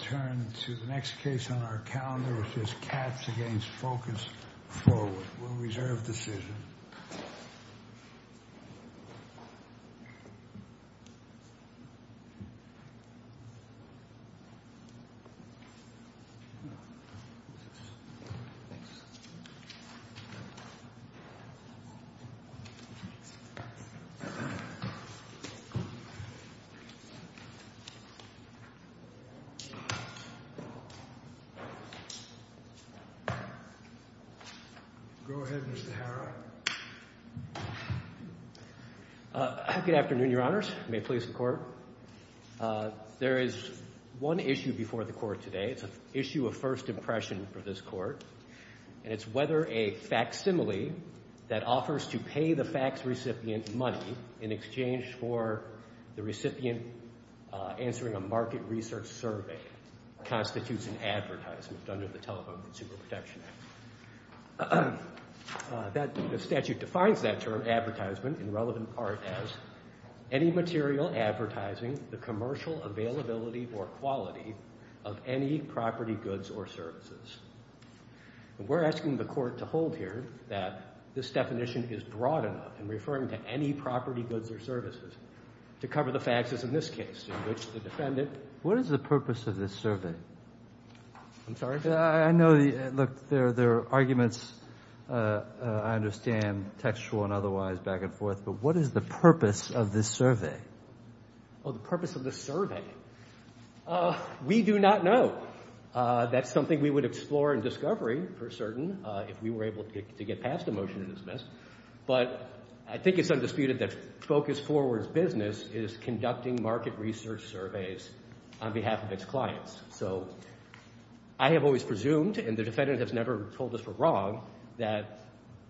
We will return to the next case on our calendar which is Katz v. Focus Forward. We will reserve decision. Go ahead, Mr. Hara. Good afternoon, your honors. May it please the court. There is one issue before the court today. It's an issue of first impression for this court. And it's whether a facsimile that offers to pay the fax recipient money in exchange for the recipient answering a market research survey constitutes an advertisement under the Telephone Consumer Protection Act. The statute defines that term, advertisement, in relevant part as any material advertising the commercial availability or quality of any property, goods, or services. We're asking the court to hold here that this definition is broad enough in referring to any property, goods, or services to cover the faxes in this case in which the defendant What is the purpose of this survey? I'm sorry? I know, look, there are arguments, I understand, textual and otherwise back and forth, but what is the purpose of this survey? Oh, the purpose of this survey. We do not know. That's something we would explore in discovery for certain if we were able to get past a motion to dismiss. But I think it's undisputed that Focus Forward's business is conducting market research surveys on behalf of its clients. So I have always presumed, and the defendant has never told us we're wrong, that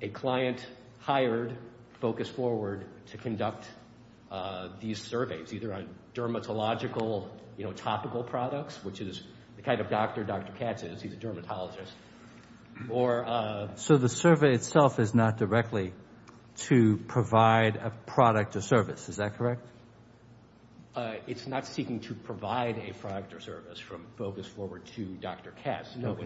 a client hired Focus Forward to conduct these surveys, either on dermatological, topical products, which is the kind of doctor Dr. Katz is, he's a dermatologist. So the survey itself is not directly to provide a product or service, is that correct? It's not seeking to provide a product or service from Focus Forward to Dr. Katz. No,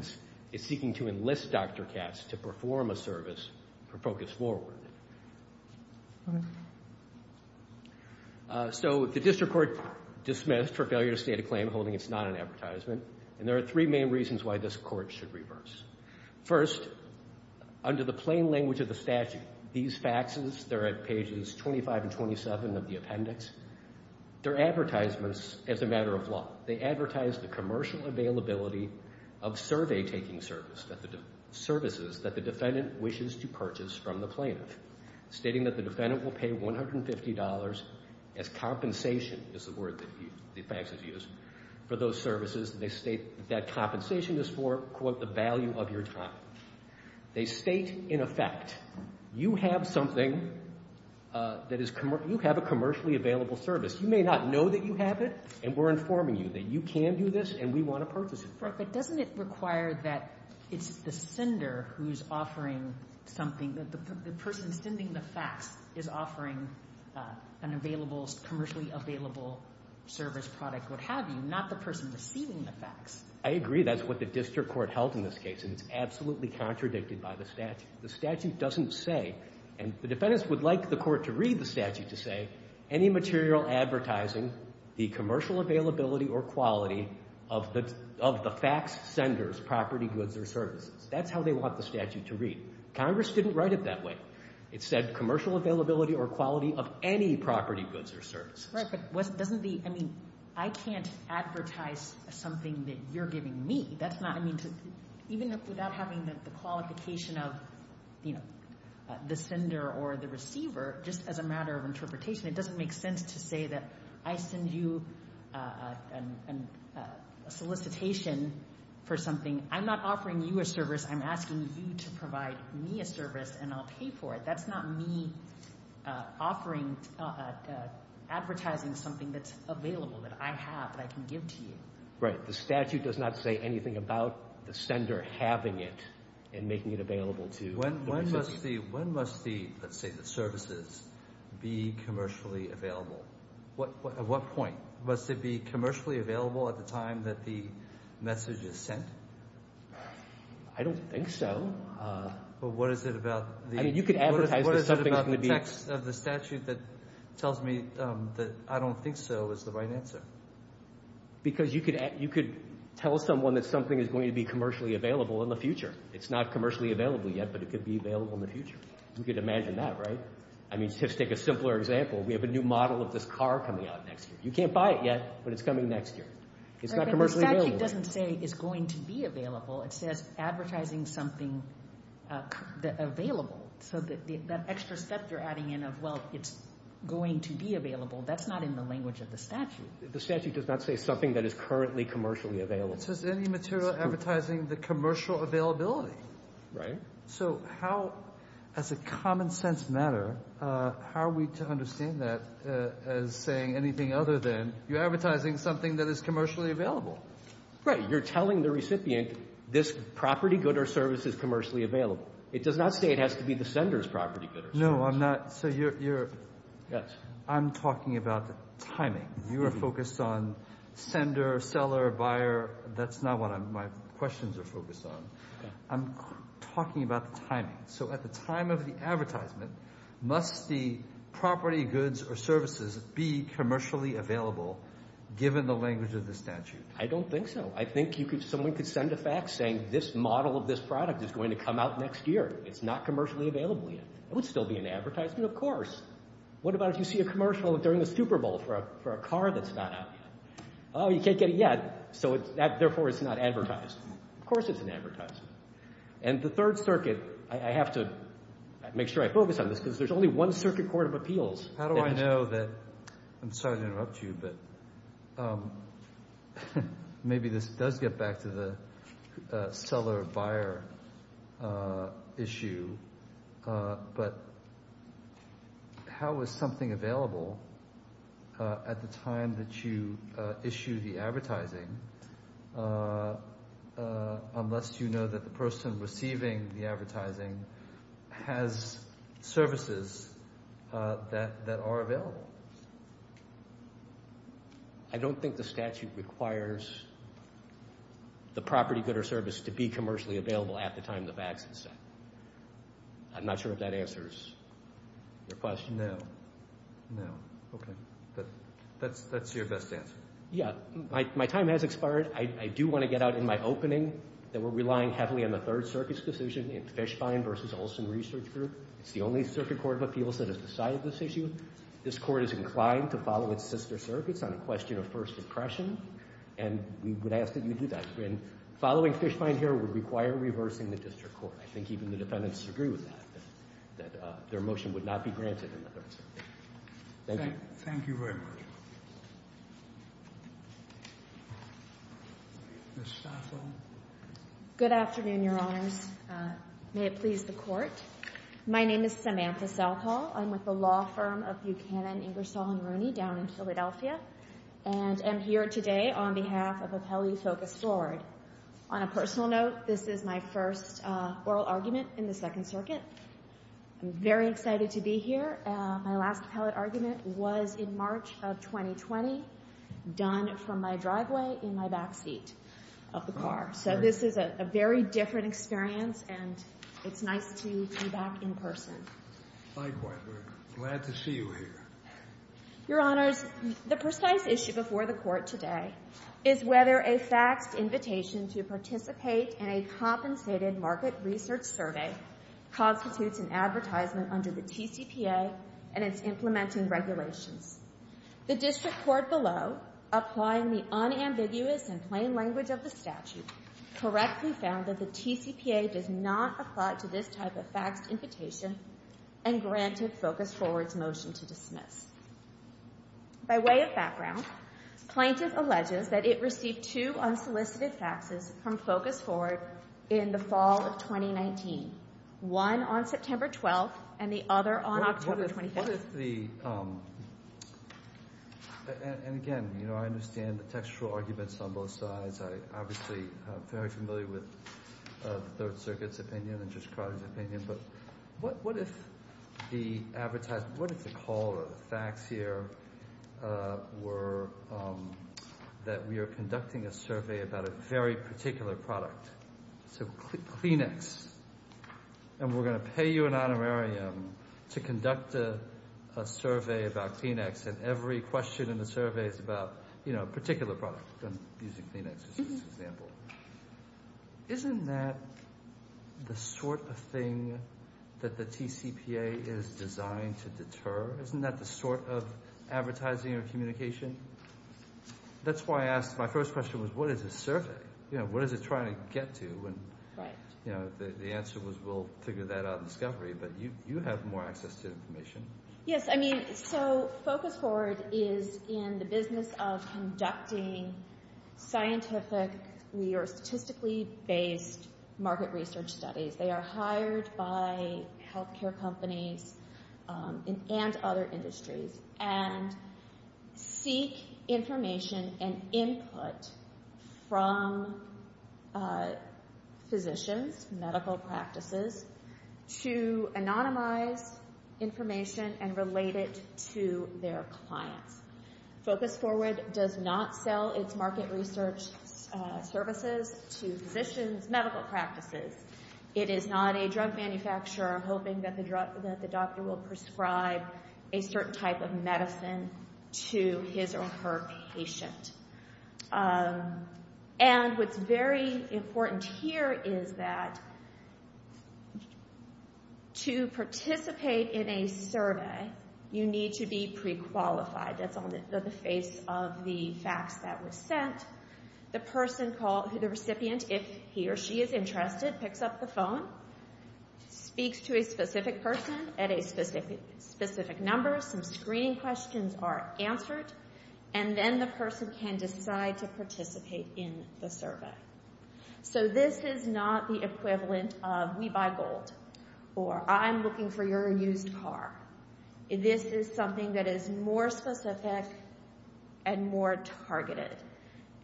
it's seeking to enlist Dr. Katz to perform a service for Focus Forward. So the district court dismissed for failure to state a claim holding it's not an advertisement, and there are three main reasons why this court should reverse. First, under the plain language of the statute, these faxes, they're at pages 25 and 27 of the appendix, they're advertisements as a matter of law. They advertise the commercial availability of survey-taking services that the defendant wishes to purchase from the plaintiff. Stating that the defendant will pay $150 as compensation, is the word that the faxes use, for those services. They state that compensation is for, quote, the value of your time. They state, in effect, you have something that is, you have a commercially available service. You may not know that you have it, and we're informing you that you can do this, and we want to purchase it. Right, but doesn't it require that it's the sender who's offering something, that the person sending the fax is offering an available, commercially available service product, what have you, not the person receiving the fax? I agree, that's what the district court held in this case, and it's absolutely contradicted by the statute. The statute doesn't say, and the defendants would like the court to read the statute to say, any material advertising, the commercial availability or quality of the fax sender's property, goods, or services. That's how they want the statute to read. Congress didn't write it that way. It said commercial availability or quality of any property, goods, or services. Right, but doesn't the, I mean, I can't advertise something that you're giving me. That's not, I mean, even without having the qualification of, you know, the sender or the receiver, just as a matter of interpretation, it doesn't make sense to say that I send you a solicitation for something. I'm not offering you a service. I'm asking you to provide me a service, and I'll pay for it. That's not me offering, advertising something that's available, that I have, that I can give to you. Right, the statute does not say anything about the sender having it and making it available to the receiver. When must the, let's say the services, be commercially available? At what point? Must it be commercially available at the time that the message is sent? I don't think so. But what is it about the text of the statute that tells me that I don't think so is the right answer? Because you could tell someone that something is going to be commercially available in the future. It's not commercially available yet, but it could be available in the future. You could imagine that, right? I mean, just take a simpler example. We have a new model of this car coming out next year. You can't buy it yet, but it's coming next year. It's not commercially available. The statute doesn't say it's going to be available. It says advertising something available. So that extra step you're adding in of, well, it's going to be available, that's not in the language of the statute. The statute does not say something that is currently commercially available. It says any material advertising the commercial availability. Right. So how, as a common sense matter, how are we to understand that as saying anything other than you're advertising something that is commercially available? Right. You're telling the recipient this property, good, or service is commercially available. It does not say it has to be the sender's property, good, or service. No, I'm not. So you're – I'm talking about the timing. You are focused on sender, seller, buyer. That's not what my questions are focused on. I'm talking about the timing. So at the time of the advertisement, must the property, goods, or services be commercially available given the language of the statute? I don't think so. I think someone could send a fax saying this model of this product is going to come out next year. It's not commercially available yet. It would still be an advertisement, of course. What about if you see a commercial during the Super Bowl for a car that's not out yet? Oh, you can't get it yet, so therefore it's not advertised. Of course it's an advertisement. And the Third Circuit, I have to make sure I focus on this because there's only one Circuit Court of Appeals. How do I know that – I'm sorry to interrupt you, but maybe this does get back to the seller-buyer issue. But how is something available at the time that you issue the advertising unless you know that the person receiving the advertising has services that are available? I don't think the statute requires the property, good, or service to be commercially available at the time the fax is sent. I'm not sure if that answers your question. No. No. Okay. That's your best answer. Yeah. My time has expired. I do want to get out in my opening that we're relying heavily on the Third Circuit's decision in Fishbein v. Olson Research Group. It's the only Circuit Court of Appeals that has decided this issue. This court is inclined to follow its sister circuits on a question of first impression, and we would ask that you do that. Following Fishbein here would require reversing the district court. I think even the defendants agree with that, that their motion would not be granted in the Third Circuit. Thank you. Thank you very much. Ms. Staffel. Good afternoon, Your Honors. May it please the Court. My name is Samantha Staffel. I'm with the law firm of Buchanan, Ingersoll, and Rooney down in Philadelphia, and I'm here today on behalf of Appellee Focus Forward. On a personal note, this is my first oral argument in the Second Circuit. I'm very excited to be here. My last appellate argument was in March of 2020, done from my driveway in my back seat of the car. So this is a very different experience, and it's nice to be back in person. Likewise. We're glad to see you here. Your Honors, the precise issue before the Court today is whether a faxed invitation to participate in a compensated market research survey constitutes an advertisement under the TCPA and its implementing regulations. The District Court below, applying the unambiguous and plain language of the statute, correctly found that the TCPA does not apply to this type of faxed invitation and granted Focus Forward's motion to dismiss. By way of background, plaintiff alleges that it received two unsolicited faxes from Focus Forward in the fall of 2019, one on September 12th and the other on October 25th. What if the—and again, you know, I understand the textual arguments on both sides. I'm obviously very familiar with the Third Circuit's opinion and Judge Crowder's opinion. But what if the advertised—what if the call or the fax here were that we are conducting a survey about a very particular product? So Kleenex, and we're going to pay you an honorarium to conduct a survey about Kleenex and every question in the survey is about, you know, a particular product. I'm using Kleenex as an example. Isn't that the sort of thing that the TCPA is designed to deter? Isn't that the sort of advertising or communication? That's why I asked—my first question was what is a survey? You know, what is it trying to get to? And, you know, the answer was we'll figure that out in discovery, but you have more access to information. Yes, I mean, so Focus Forward is in the business of conducting scientifically or statistically based market research studies. They are hired by health care companies and other industries and seek information and input from physicians, medical practices, to anonymize information and relate it to their clients. Focus Forward does not sell its market research services to physicians, medical practices. It is not a drug manufacturer hoping that the doctor will prescribe a certain type of medicine to his or her patient. And what's very important here is that to participate in a survey, you need to be prequalified. That's on the face of the fax that was sent. The recipient, if he or she is interested, picks up the phone, speaks to a specific person at a specific number. Some screening questions are answered, and then the person can decide to participate in the survey. So this is not the equivalent of we buy gold or I'm looking for your used car. This is something that is more specific and more targeted.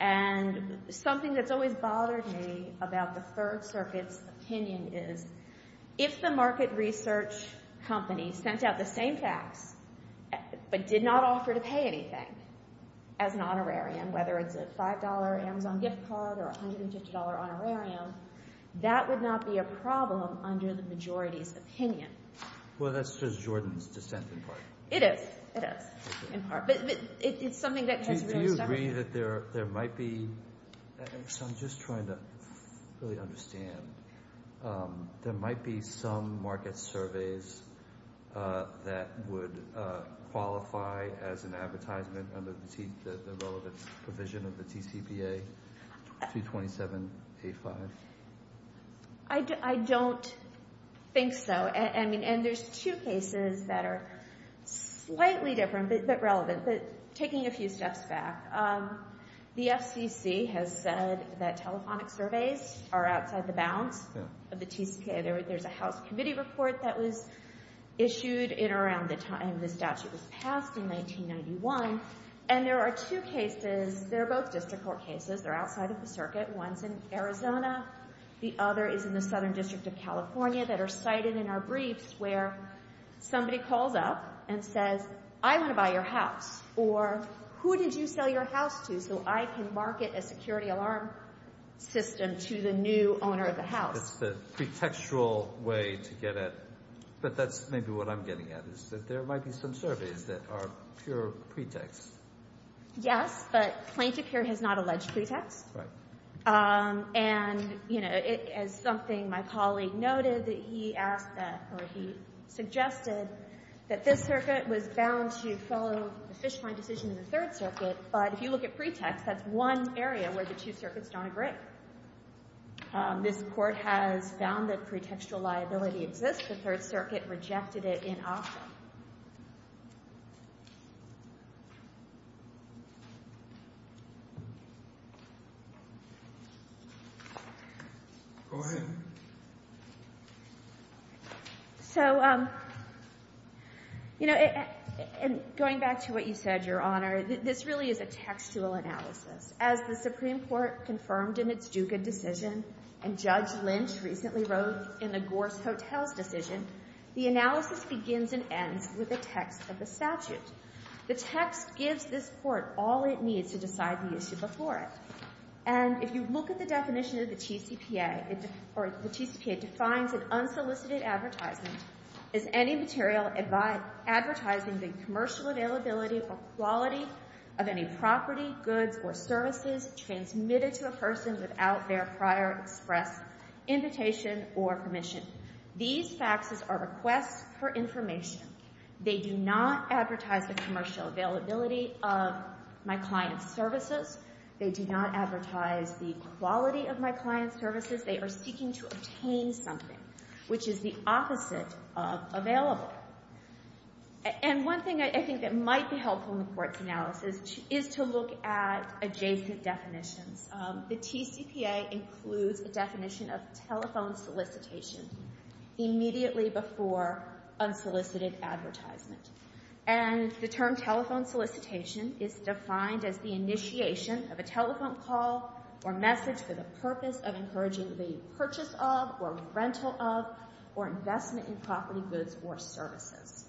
And something that's always bothered me about the Third Circuit's opinion is if the market research company sent out the same fax but did not offer to pay anything as an honorarium, whether it's a $5 Amazon gift card or a $150 honorarium, that would not be a problem under the majority's opinion. Well, that's just Jordan's dissent in part. It is, it is, in part. But it's something that has really stuck with me. Do you agree that there might be – so I'm just trying to really understand. There might be some market surveys that would qualify as an advertisement under the relevant provision of the TCPA, 227.85? I don't think so. And there's two cases that are slightly different but relevant. But taking a few steps back, the FCC has said that telephonic surveys are outside the bounds of the TCPA. There's a House Committee report that was issued in around the time the statute was passed in 1991. And there are two cases – they're both district court cases. They're outside of the circuit. One's in Arizona. The other is in the Southern District of California that are cited in our briefs where somebody calls up and says, I want to buy your house. Or who did you sell your house to so I can market a security alarm system to the new owner of the house? It's the pretextual way to get at it. But that's maybe what I'm getting at is that there might be some surveys that are pure pretext. Yes, but plaintiff here has not alleged pretext. And it is something my colleague noted that he asked that – or he suggested that this circuit was bound to follow the fish find decision in the Third Circuit. But if you look at pretext, that's one area where the two circuits don't agree. This court has found that pretextual liability exists. The Third Circuit rejected it in office. Go ahead. So, you know, going back to what you said, Your Honor, this really is a textual analysis. As the Supreme Court confirmed in its Dugan decision, and Judge Lynch recently wrote in the Gorse Hotels decision, the analysis begins and ends with a text of the statute. The text gives this court all it needs to decide the issue before it. And if you look at the definition of the TCPA – or the TCPA defines an unsolicited advertisement as any material advertising the commercial availability or quality of any property, goods, or services transmitted to a person without their prior express invitation or permission. These faxes are requests for information. They do not advertise the commercial availability of my client's services. They do not advertise the quality of my client's services. They are seeking to obtain something, which is the opposite of available. And one thing I think that might be helpful in the court's analysis is to look at adjacent definitions. The TCPA includes a definition of telephone solicitation immediately before unsolicited advertisement. And the term telephone solicitation is defined as the initiation of a telephone call or message for the purpose of encouraging the purchase of or rental of or investment in property, goods, or services.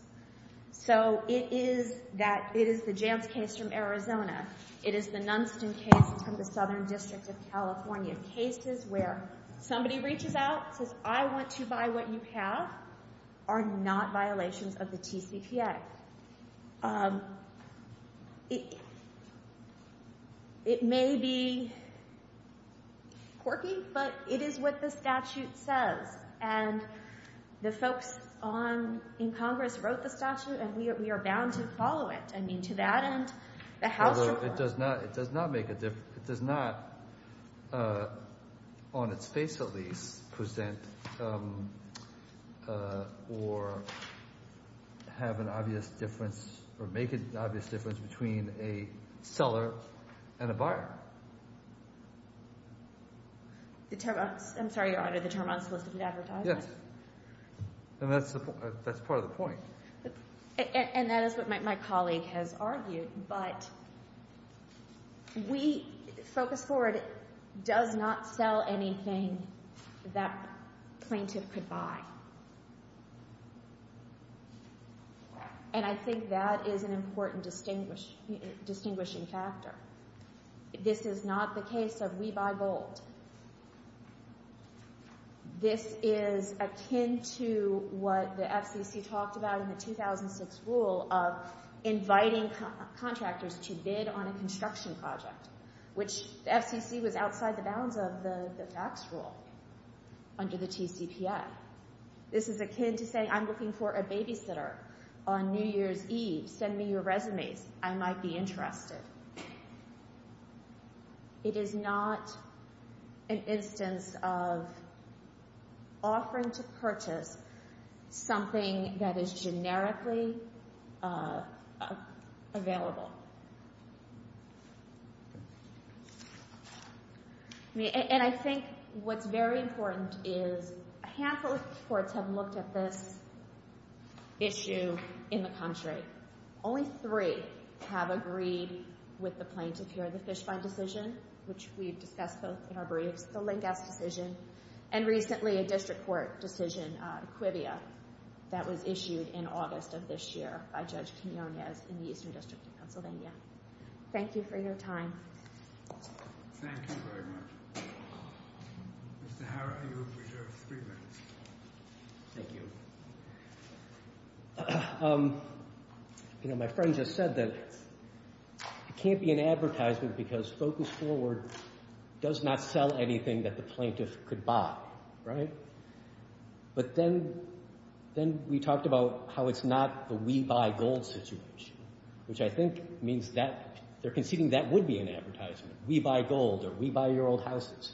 So it is that – it is the Jantz case from Arizona. It is the Nunston case from the Southern District of California. And cases where somebody reaches out and says, I want to buy what you have are not violations of the TCPA. It may be quirky, but it is what the statute says. And the folks in Congress wrote the statute, and we are bound to follow it. Although it does not make a – it does not, on its face at least, present or have an obvious difference or make an obvious difference between a seller and a buyer. I'm sorry. You're under the term unsolicited advertisement? Yes. And that's part of the point. And that is what my colleague has argued. But we – Focus Forward does not sell anything that plaintiff could buy. And I think that is an important distinguishing factor. This is not the case of we buy gold. This is akin to what the FCC talked about in the 2006 rule of inviting contractors to bid on a construction project, which the FCC was outside the bounds of the facts rule under the TCPA. This is akin to saying, I'm looking for a babysitter on New Year's Eve. Send me your resumes. I might be interested. It is not an instance of offering to purchase something that is generically available. And I think what's very important is a handful of courts have looked at this issue in the country. Thank you for your time. Thank you very much. My friend just said that it can't be an advertisement because Focus Forward does not sell anything that the plaintiff could buy. But then we talked about how it's not the we buy gold situation, which I think means that they're conceding that would be an advertisement. We buy gold or we buy your old houses.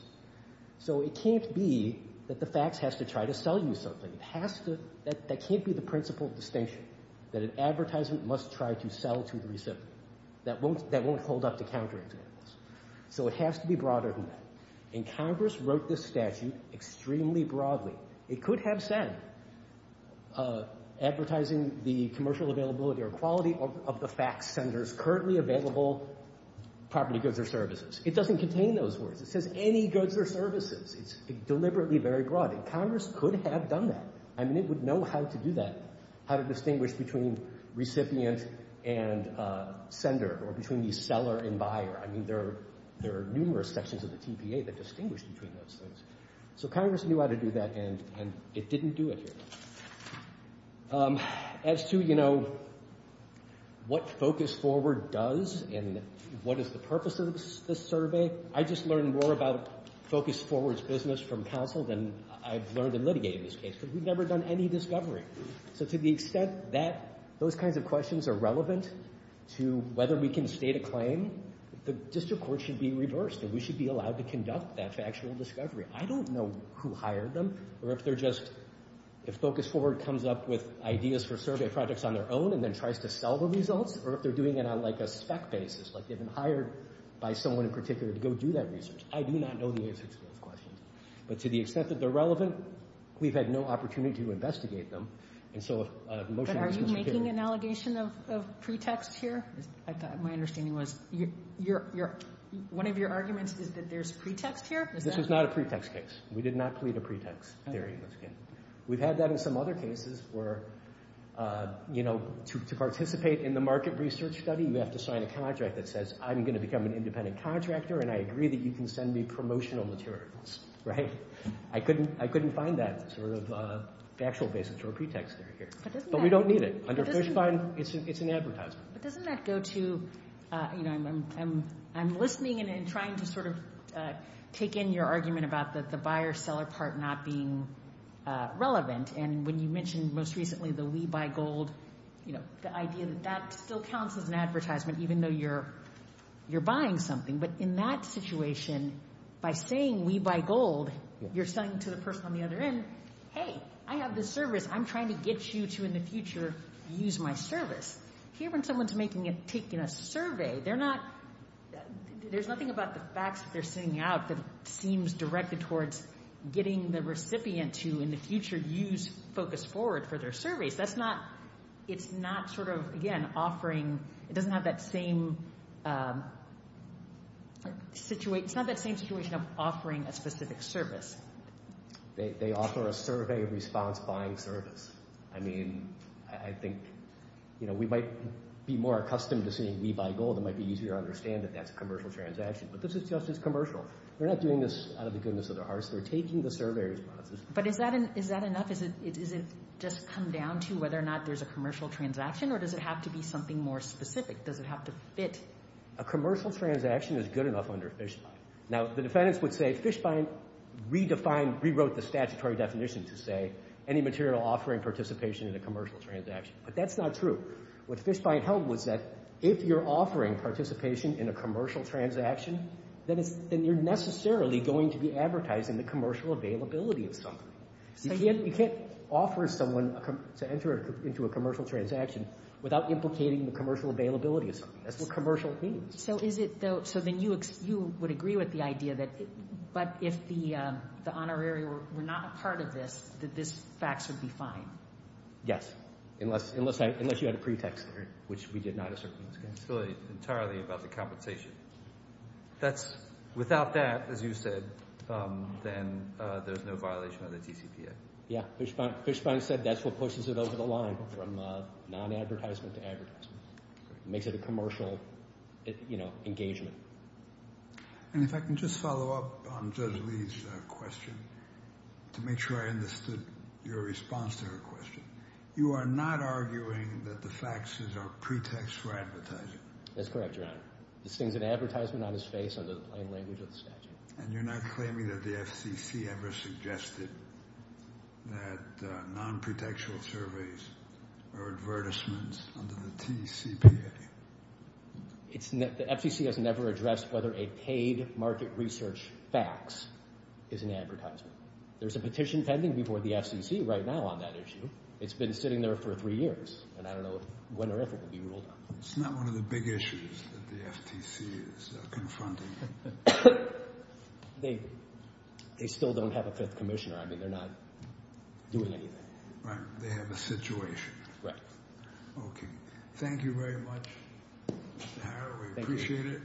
So it can't be that the facts has to try to sell you something. That can't be the principal distinction, that an advertisement must try to sell to the recipient. That won't hold up to counter-examples. So it has to be broader than that. And Congress wrote this statute extremely broadly. It could have said advertising the commercial availability or quality of the fax centers currently available property goods or services. It doesn't contain those words. It says any goods or services. It's deliberately very broad. Congress could have done that. I mean, it would know how to do that, how to distinguish between recipient and sender or between the seller and buyer. I mean, there are numerous sections of the TPA that distinguish between those things. So Congress knew how to do that, and it didn't do it here. As to, you know, what Focus Forward does and what is the purpose of this survey, I just learned more about Focus Forward's business from counsel than I've learned in litigating this case because we've never done any discovery. So to the extent that those kinds of questions are relevant to whether we can state a claim, the district court should be reversed and we should be allowed to conduct that factual discovery. I don't know who hired them or if they're just—if Focus Forward comes up with ideas for survey projects on their own and then tries to sell the results or if they're doing it on like a spec basis, like they've been hired by someone in particular to go do that research. I do not know the answers to those questions. But to the extent that they're relevant, we've had no opportunity to investigate them. But are you making an allegation of pretext here? My understanding was one of your arguments is that there's pretext here? This is not a pretext case. We did not plead a pretext theory. We've had that in some other cases where, you know, to participate in the market research study, you have to sign a contract that says I'm going to become an independent contractor and I agree that you can send me promotional materials, right? I couldn't find that sort of factual basis or pretext theory here. But we don't need it. Under Fishbein, it's an advertisement. But doesn't that go to—you know, I'm listening and trying to sort of take in your argument about the buyer-seller part not being relevant. And when you mentioned most recently the we buy gold, you know, the idea that that still counts as an advertisement even though you're buying something. But in that situation, by saying we buy gold, you're saying to the person on the other end, hey, I have this service. I'm trying to get you to, in the future, use my service. Here when someone's making a—taking a survey, they're not—there's nothing about the facts that they're sending out that seems directed towards getting the recipient to, in the future, use Focus Forward for their surveys. That's not—it's not sort of, again, offering—it doesn't have that same—it's not that same situation of offering a specific service. They offer a survey response buying service. I mean, I think, you know, we might be more accustomed to saying we buy gold. It might be easier to understand that that's a commercial transaction. But this is just as commercial. They're not doing this out of the goodness of their hearts. They're taking the survey responses. But is that enough? Is it just come down to whether or not there's a commercial transaction, or does it have to be something more specific? Does it have to fit? A commercial transaction is good enough under FISHBIND. Now, the defendants would say FISHBIND redefined—rewrote the statutory definition to say any material offering participation in a commercial transaction. But that's not true. What FISHBIND held was that if you're offering participation in a commercial transaction, then you're necessarily going to be advertising the commercial availability of something. You can't offer someone to enter into a commercial transaction without implicating the commercial availability of something. That's what commercial means. So is it, though—so then you would agree with the idea that, but if the honorary were not a part of this, that this fax would be fine? Yes, unless you had a pretext there, which we did not assert in this case. It's really entirely about the compensation. That's—without that, as you said, then there's no violation of the TCPA. Yeah, FISHBIND said that's what pushes it over the line from non-advertisement to advertisement. It makes it a commercial engagement. And if I can just follow up on Judge Lee's question to make sure I understood your response to her question. You are not arguing that the faxes are pretexts for advertising? That's correct, Your Honor. This thing's an advertisement on his face under the plain language of the statute. And you're not claiming that the FCC ever suggested that non-pretextual surveys are advertisements under the TCPA? The FCC has never addressed whether a paid market research fax is an advertisement. There's a petition pending before the FCC right now on that issue. It's been sitting there for three years, and I don't know when or if it will be ruled out. It's not one of the big issues that the FTC is confronting. They still don't have a fifth commissioner. I mean, they're not doing anything. Right. They have a situation. Right. Okay. Thank you very much, Mr. Harrer. We appreciate it.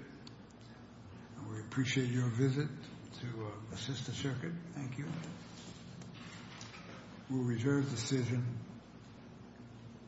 And we appreciate your visit to assist the circuit. Thank you. We'll reserve the decision.